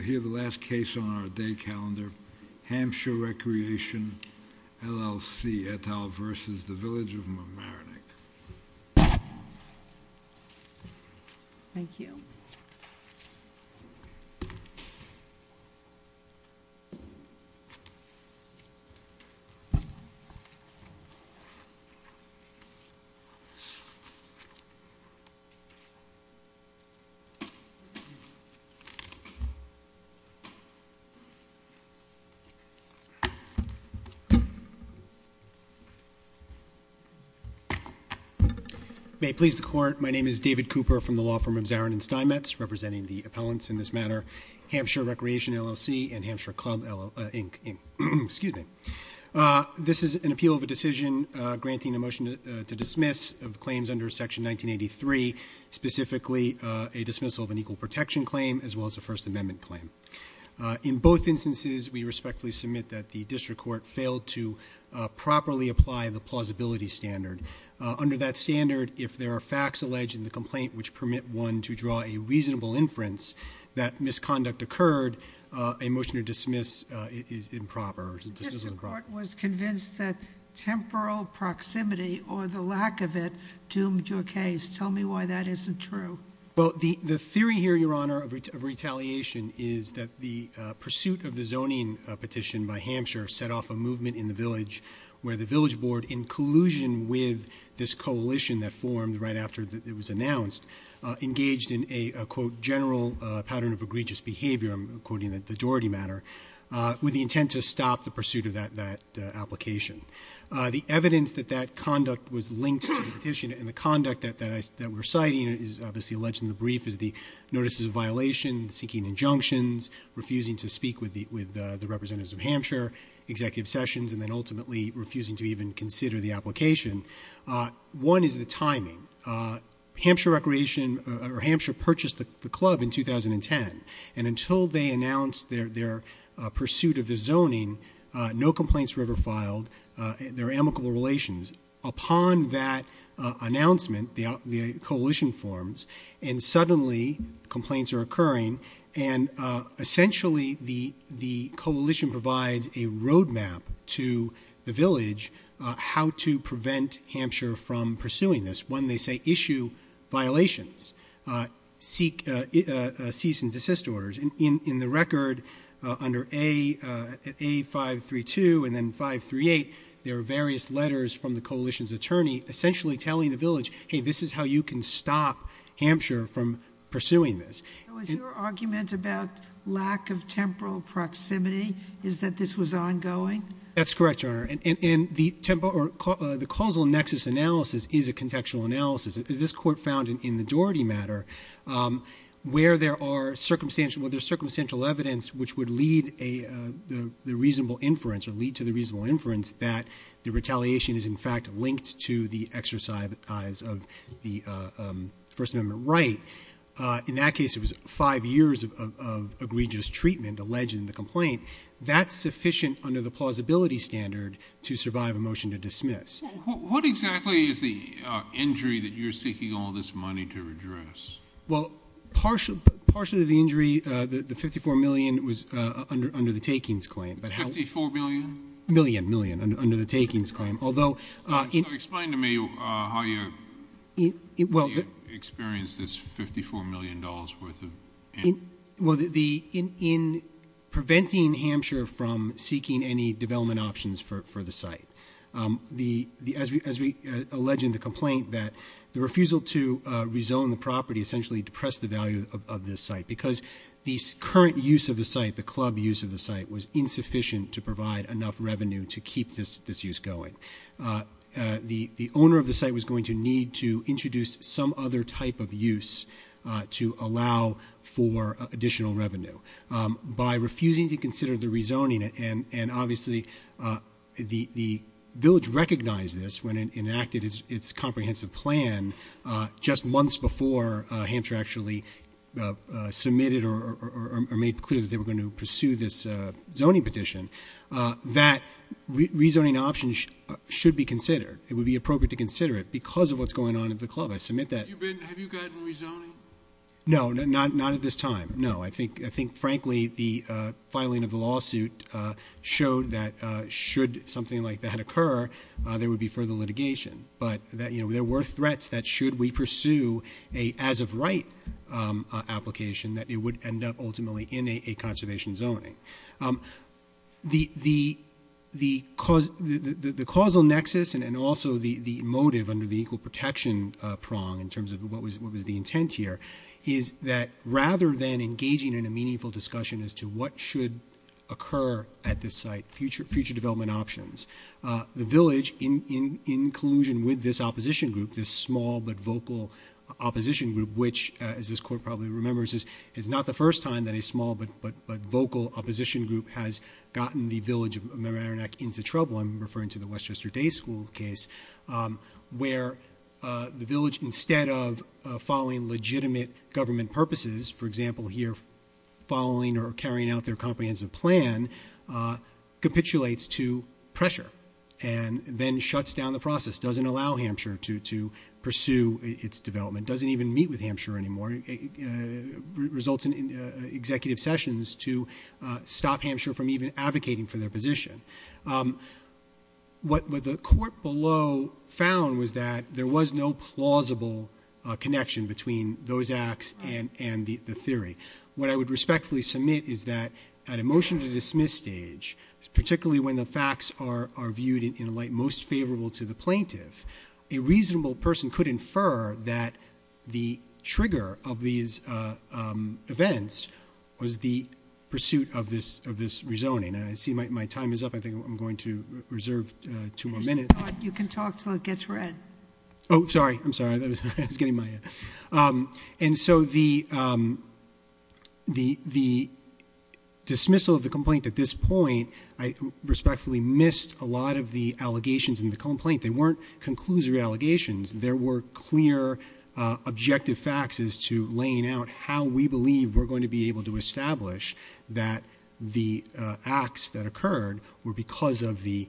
I hear the last case on our day calendar, Hampshire Recreation, LLC, et al. versus the Village of Mimarinik. Thank you. May it please the court, my name is David Cooper from the law firm of Zarin and Steinmetz, representing the appellants in this matter, Hampshire Recreation, LLC, and Hampshire Club, Inc. This is an appeal of a decision granting a motion to dismiss of claims under Section 1983, specifically a dismissal of an equal protection claim as well as a First Amendment claim. In both instances, we respectfully submit that the district court failed to properly apply the plausibility standard. Under that standard, if there are facts alleged in the complaint which permit one to draw a reasonable inference that misconduct occurred, a motion to dismiss is improper. The district court was convinced that temporal proximity or the lack of it doomed your case. Tell me why that isn't true. Well, the theory here, Your Honor, of retaliation is that the pursuit of the zoning petition by Hampshire set off a movement in the village where the village board, in collusion with this coalition that formed right after it was announced, engaged in a, quote, general pattern of egregious behavior, I'm quoting the Doherty matter, with the intent to stop the pursuit of that application. The evidence that that conduct was linked to the petition and the conduct that we're citing is obviously alleged in the brief as the notices of violation, seeking injunctions, refusing to speak with the representatives of Hampshire, executive sessions, and then ultimately refusing to even consider the application. One is the timing. Hampshire Recreation, or Hampshire, purchased the club in 2010. And until they announced their pursuit of the zoning, no complaints were ever filed. There are amicable relations. Upon that announcement, the coalition forms. And suddenly, complaints are occurring. And essentially, the coalition provides a roadmap to the village how to prevent Hampshire from pursuing this. When they say issue violations, cease and desist orders, in the record, under A532 and then 538, there are various letters from the coalition's attorney essentially telling the village, hey, this is how you can stop Hampshire from pursuing this. So is your argument about lack of temporal proximity is that this was ongoing? That's correct, Your Honor. And the causal nexus analysis is a contextual analysis. As this court found in the Doherty matter, where there are circumstantial evidence which would lead the reasonable inference or lead to the reasonable inference that the retaliation is in fact linked to the exercise of the First Amendment right. In that case, it was five years of egregious treatment alleged in the complaint. That's sufficient under the plausibility standard to survive a motion to dismiss. What exactly is the injury that you're seeking all this money to address? Well, partially the injury, the $54 million was under the takings claim. $54 million? Million, million, under the takings claim. So explain to me how you experienced this $54 million worth of- Well, in preventing Hampshire from seeking any development options for the site. As we allege in the complaint that the refusal to rezone the property essentially depressed the value of this site. Because the current use of the site, the club use of the site, was insufficient to provide enough revenue to keep this use going. The owner of the site was going to need to introduce some other type of use to allow for additional revenue. By refusing to consider the rezoning, and obviously the village recognized this when it enacted its comprehensive plan just months before Hampshire actually submitted or made clear that they were going to pursue this zoning petition. That rezoning option should be considered. It would be appropriate to consider it because of what's going on at the club. I submit that- Have you gotten rezoning? No, not at this time. No, I think frankly the filing of the lawsuit showed that should something like that occur, there would be further litigation. But there were threats that should we pursue a as of right application that it would end up ultimately in a conservation zoning. The causal nexus and also the motive under the equal protection prong in terms of what was the intent here. Is that rather than engaging in a meaningful discussion as to what should occur at this site. Future development options. The village in collusion with this opposition group, this small but vocal opposition group. Which as this court probably remembers is not the first time that a small but vocal opposition group has gotten the village of Maranac into trouble. I'm referring to the Westchester Day School case. Where the village instead of following legitimate government purposes. For example, here following or carrying out their comprehensive plan capitulates to pressure. And then shuts down the process. Doesn't allow Hampshire to pursue its development. Doesn't even meet with Hampshire anymore. Results in executive sessions to stop Hampshire from even advocating for their position. What the court below found was that there was no plausible connection between those acts and the theory. What I would respectfully submit is that at a motion to dismiss stage. Particularly when the facts are viewed in a light most favorable to the plaintiff. A reasonable person could infer that the trigger of these events was the pursuit of this rezoning. And I see my time is up. I think I'm going to reserve two more minutes. You can talk until it gets read. Oh, sorry. I'm sorry. I was getting my. And so the dismissal of the complaint at this point. I respectfully missed a lot of the allegations in the complaint. They weren't conclusory allegations. There were clear objective facts as to laying out how we believe we're going to be able to establish. That the acts that occurred were because of the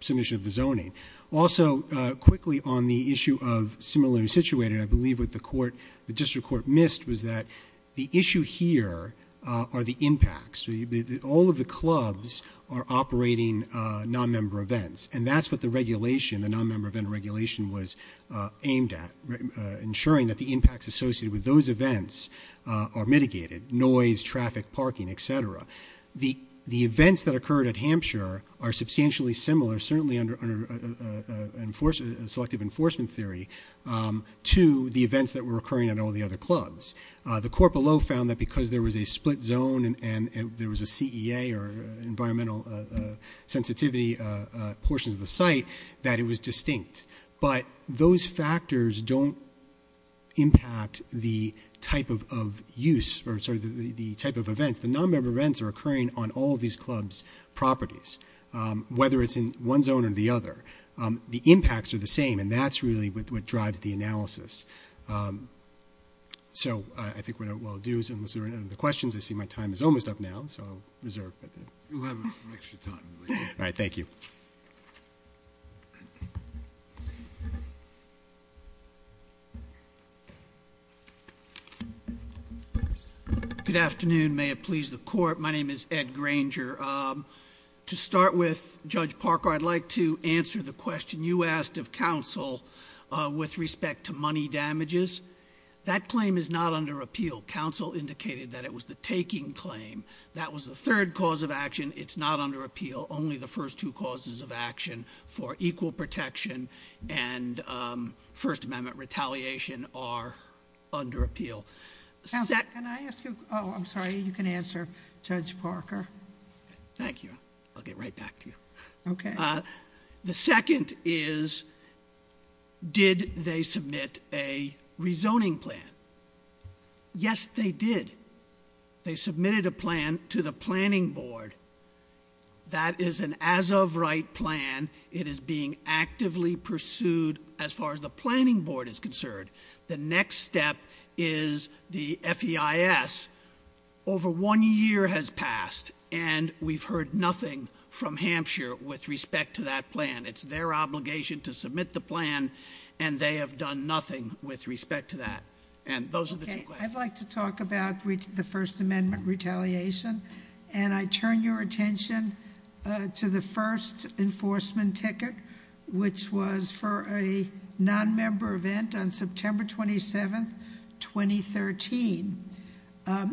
submission of the zoning. Also, quickly on the issue of similarly situated. I believe what the court, the district court missed was that the issue here are the impacts. All of the clubs are operating non-member events. And that's what the regulation, the non-member event regulation was aimed at. Ensuring that the impacts associated with those events are mitigated. Noise, traffic, parking, et cetera. The events that occurred at Hampshire are substantially similar. Certainly under selective enforcement theory to the events that were occurring at all the other clubs. The court below found that because there was a split zone and there was a CEA or environmental sensitivity portion of the site. That it was distinct. But those factors don't impact the type of use or the type of events. The non-member events are occurring on all of these clubs' properties. Whether it's in one zone or the other. The impacts are the same. And that's really what drives the analysis. So, I think what I'll do is unless there are any other questions. I see my time is almost up now. So, I'll reserve. We'll have extra time. All right. Thank you. Good afternoon. May it please the court. My name is Ed Granger. To start with Judge Parker, I'd like to answer the question you asked of counsel with respect to money damages. That claim is not under appeal. Counsel indicated that it was the taking claim. That was the third cause of action. It's not under appeal. Only the first two causes of action for equal protection and First Amendment retaliation are under appeal. Counsel, can I ask you? Oh, I'm sorry. You can answer, Judge Parker. Thank you. I'll get right back to you. Okay. The second is, did they submit a rezoning plan? Yes, they did. They submitted a plan to the planning board. That is an as of right plan. It is being actively pursued as far as the planning board is concerned. The next step is the FEIS. Over one year has passed, and we've heard nothing from Hampshire with respect to that plan. It's their obligation to submit the plan, and they have done nothing with respect to that. And those are the two questions. Okay. I'd like to talk about the First Amendment retaliation, and I turn your attention to the first enforcement ticket, which was for a nonmember event on September 27th, 2013.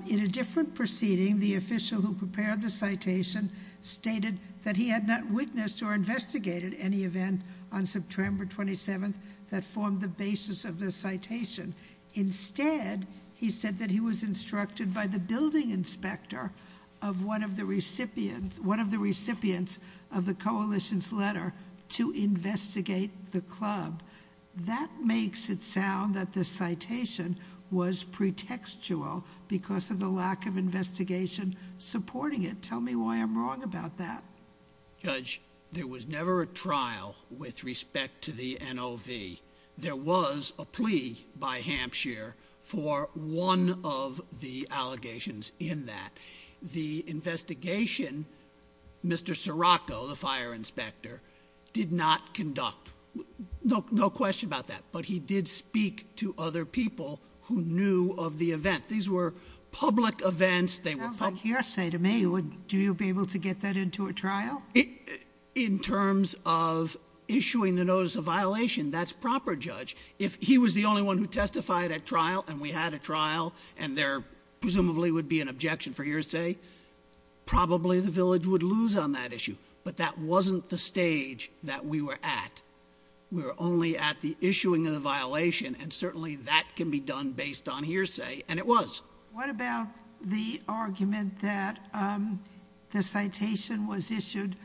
In a different proceeding, the official who prepared the citation stated that he had not witnessed or investigated any event on September 27th that formed the basis of the citation. Instead, he said that he was instructed by the building inspector of one of the recipients of the coalition's letter to investigate the club. That makes it sound that the citation was pretextual because of the lack of investigation supporting it. Tell me why I'm wrong about that. Judge, there was never a trial with respect to the NOV. There was a plea by Hampshire for one of the allegations in that. The investigation, Mr. Scirocco, the fire inspector, did not conduct. No question about that, but he did speak to other people who knew of the event. These were public events. Sounds like hearsay to me. Would you be able to get that into a trial? In terms of issuing the notice of violation, that's proper, Judge. If he was the only one who testified at trial, and we had a trial, and there presumably would be an objection for hearsay, probably the village would lose on that issue. But that wasn't the stage that we were at. We were only at the issuing of the violation, and certainly that can be done based on hearsay, and it was. What about the argument that the citation was issued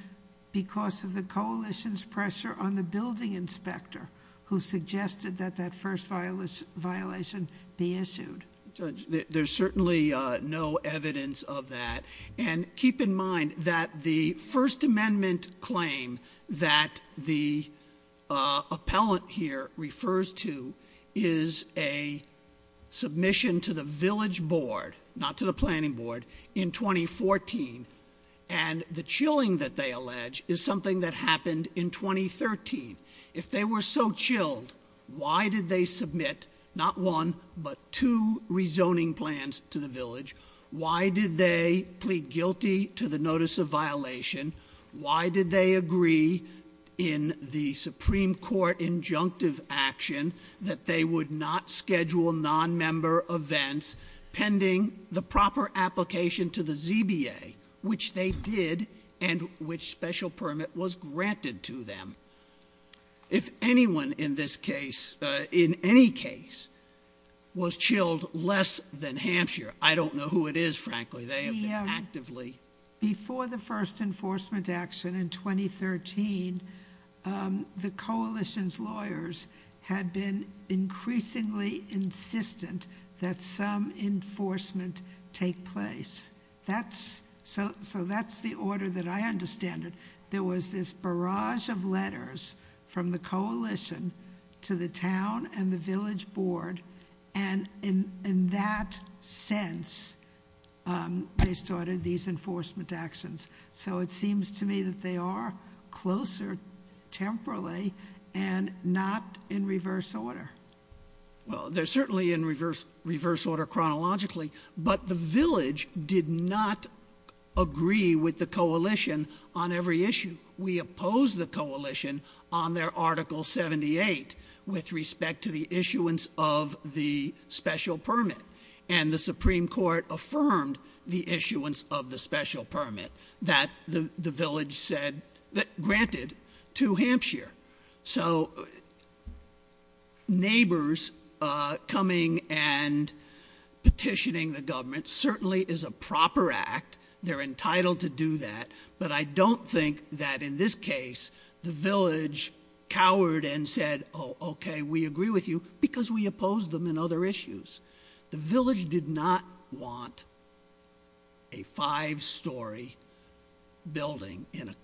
because of the coalition's pressure on the building inspector who suggested that that first violation be issued? Judge, there's certainly no evidence of that, and keep in mind that the First Amendment claim that the appellant here refers to is a submission to the village board, not to the planning board, in 2014, and the chilling that they allege is something that happened in 2013. If they were so chilled, why did they submit not one but two rezoning plans to the village? Why did they plead guilty to the notice of violation? Why did they agree in the Supreme Court injunctive action that they would not schedule nonmember events pending the proper application to the ZBA, which they did and which special permit was granted to them? If anyone in this case, in any case, was chilled less than Hampshire, I don't know who it is, frankly. They have been actively... Before the first enforcement action in 2013, the coalition's lawyers had been increasingly insistent that some enforcement take place. So that's the order that I understand it. There was this barrage of letters from the coalition to the town and the village board, and in that sense, they started these enforcement actions. So it seems to me that they are closer temporally and not in reverse order. Well, they're certainly in reverse order chronologically, but the village did not agree with the coalition on every issue. We opposed the coalition on their Article 78 with respect to the issuance of the special permit, and the Supreme Court affirmed the issuance of the special permit that the village granted to Hampshire. So neighbors coming and petitioning the government certainly is a proper act. They're entitled to do that. But I don't think that in this case the village cowered and said, oh, okay, we agree with you because we opposed them in other issues. The village did not want a five-story building in a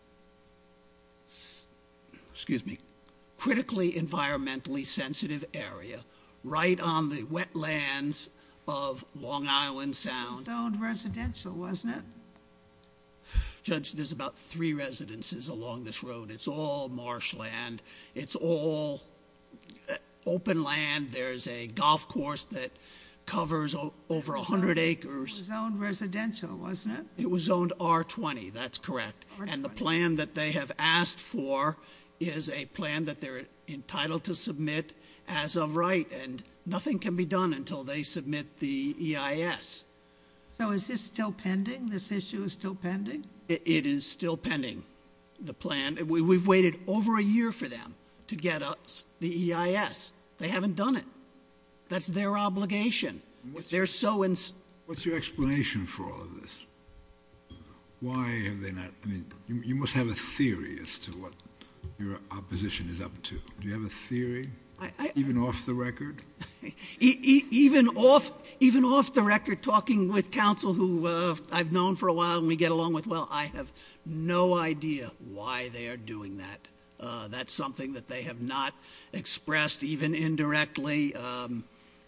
critically environmentally sensitive area right on the wetlands of Long Island Sound. Sound residential, wasn't it? Judge, there's about three residences along this road. It's all marshland. It's all open land. There's a golf course that covers over 100 acres. It was zoned residential, wasn't it? It was zoned R-20. That's correct. And the plan that they have asked for is a plan that they're entitled to submit as of right, and nothing can be done until they submit the EIS. So is this still pending? This issue is still pending? It is still pending, the plan. We've waited over a year for them to get the EIS. They haven't done it. That's their obligation. What's your explanation for all of this? Why have they not? I mean, you must have a theory as to what your opposition is up to. Do you have a theory, even off the record? Even off the record, talking with counsel who I've known for a while and we get along with well, I have no idea why they are doing that. That's something that they have not expressed even indirectly.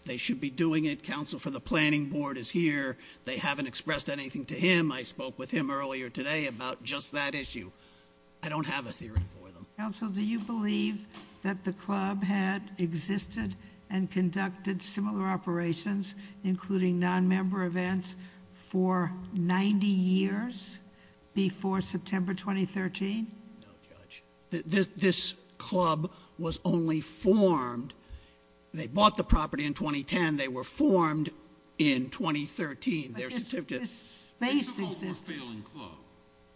They should be doing it. Counsel for the planning board is here. They haven't expressed anything to him. I spoke with him earlier today about just that issue. I don't have a theory for them. Counsel, do you believe that the club had existed and conducted similar operations, including nonmember events, for 90 years before September 2013? No, Judge. This club was only formed. They bought the property in 2010. They were formed in 2013. But this space existed. They took over a failing club.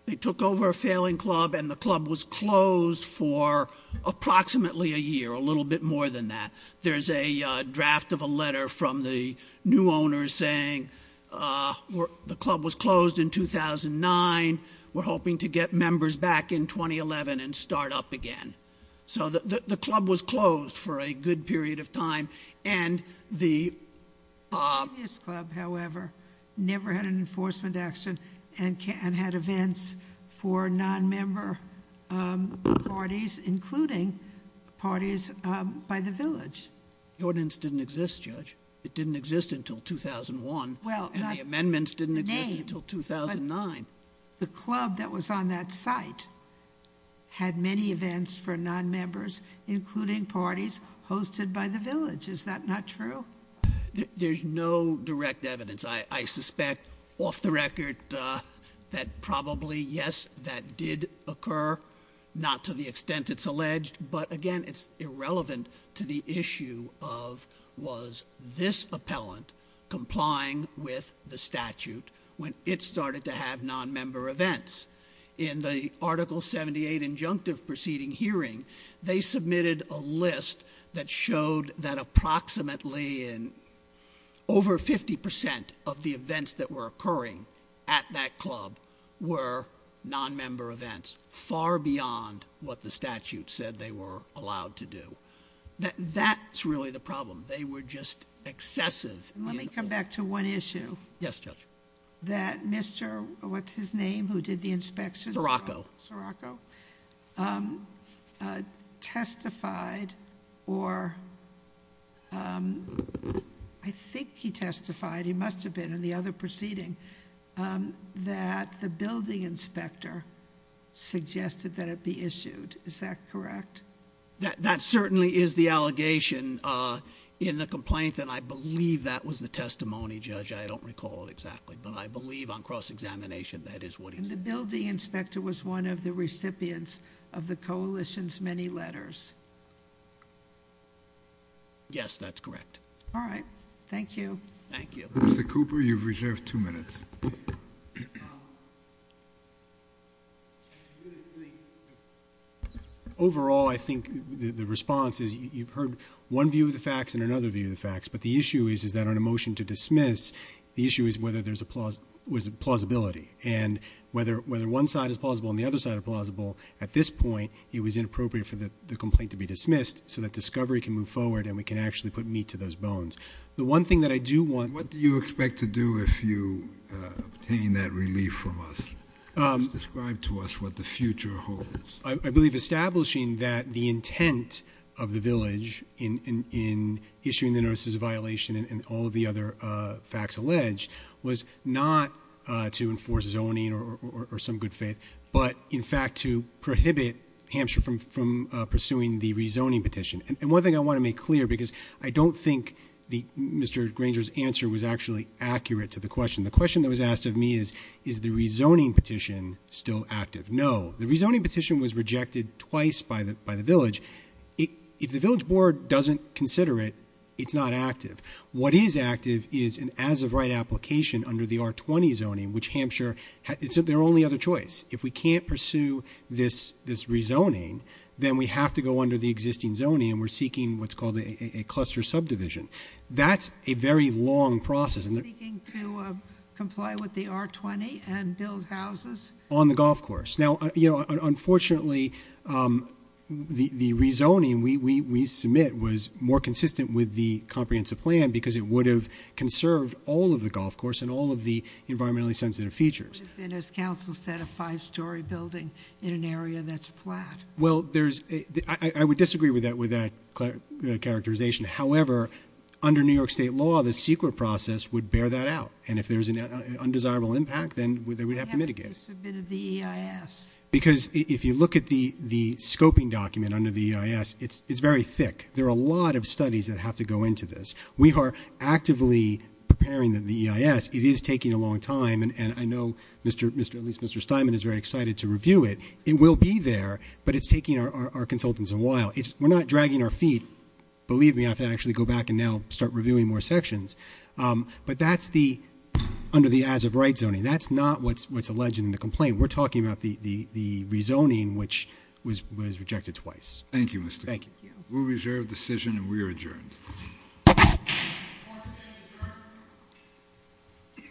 They took over a failing club, and the club was closed for approximately a year, a little bit more than that. There's a draft of a letter from the new owners saying the club was closed in 2009. We're hoping to get members back in 2011 and start up again. So the club was closed for a good period of time. And the previous club, however, never had an enforcement action and had events for nonmember parties, including parties by the village. The ordinance didn't exist, Judge. It didn't exist until 2001. And the amendments didn't exist until 2009. The club that was on that site had many events for nonmembers, including parties hosted by the village. Is that not true? There's no direct evidence. I suspect off the record that probably, yes, that did occur, not to the extent it's alleged. But, again, it's irrelevant to the issue of was this appellant complying with the statute when it started to have nonmember events. In the Article 78 injunctive proceeding hearing, they submitted a list that showed that approximately over 50% of the events that were occurring at that club were nonmember events, far beyond what the statute said they were allowed to do. That's really the problem. They were just excessive. Let me come back to one issue. Yes, Judge. That Mr., what's his name, who did the inspections? Scirocco. Testified, or I think he testified, he must have been in the other proceeding, that the building inspector suggested that it be issued. Is that correct? That certainly is the allegation in the complaint, and I believe that was the testimony, Judge. I don't recall it exactly, but I believe on cross-examination that is what he said. The building inspector was one of the recipients of the coalition's many letters. Yes, that's correct. All right. Thank you. Thank you. Mr. Cooper, you've reserved two minutes. Overall, I think the response is you've heard one view of the facts and another view of the facts, but the issue is, is that on a motion to dismiss, the issue is whether there's a plausibility, and whether one side is plausible and the other side is plausible, at this point, it was inappropriate for the complaint to be dismissed so that discovery can move forward and we can actually put meat to those bones. Obtaining that relief from us. Describe to us what the future holds. I believe establishing that the intent of the village in issuing the notices of violation and all of the other facts alleged was not to enforce zoning or some good faith, but, in fact, to prohibit Hampshire from pursuing the rezoning petition. And one thing I want to make clear, because I don't think Mr. Granger's answer was actually accurate to the question. The question that was asked of me is, is the rezoning petition still active? No. The rezoning petition was rejected twice by the village. If the village board doesn't consider it, it's not active. What is active is an as-of-right application under the R20 zoning, which Hampshire, it's their only other choice. If we can't pursue this rezoning, then we have to go under the existing zoning, and we're seeking what's called a cluster subdivision. That's a very long process. You're seeking to comply with the R20 and build houses? On the golf course. Now, unfortunately, the rezoning we submit was more consistent with the comprehensive plan because it would have conserved all of the golf course and all of the environmentally sensitive features. It would have been, as counsel said, a five-story building in an area that's flat. Well, I would disagree with that characterization. However, under New York State law, the secret process would bear that out. And if there's an undesirable impact, then they would have to mitigate it. Why haven't you submitted the EIS? Because if you look at the scoping document under the EIS, it's very thick. There are a lot of studies that have to go into this. We are actively preparing the EIS. It is taking a long time, and I know at least Mr. Steinman is very excited to review it. It will be there, but it's taking our consultants a while. We're not dragging our feet. Believe me, I have to actually go back and now start reviewing more sections. But that's under the as-of-right zoning. That's not what's alleged in the complaint. We're talking about the rezoning, which was rejected twice. Thank you, Mr. Chairman. Thank you. We'll reserve the decision, and we are adjourned. Court is adjourned.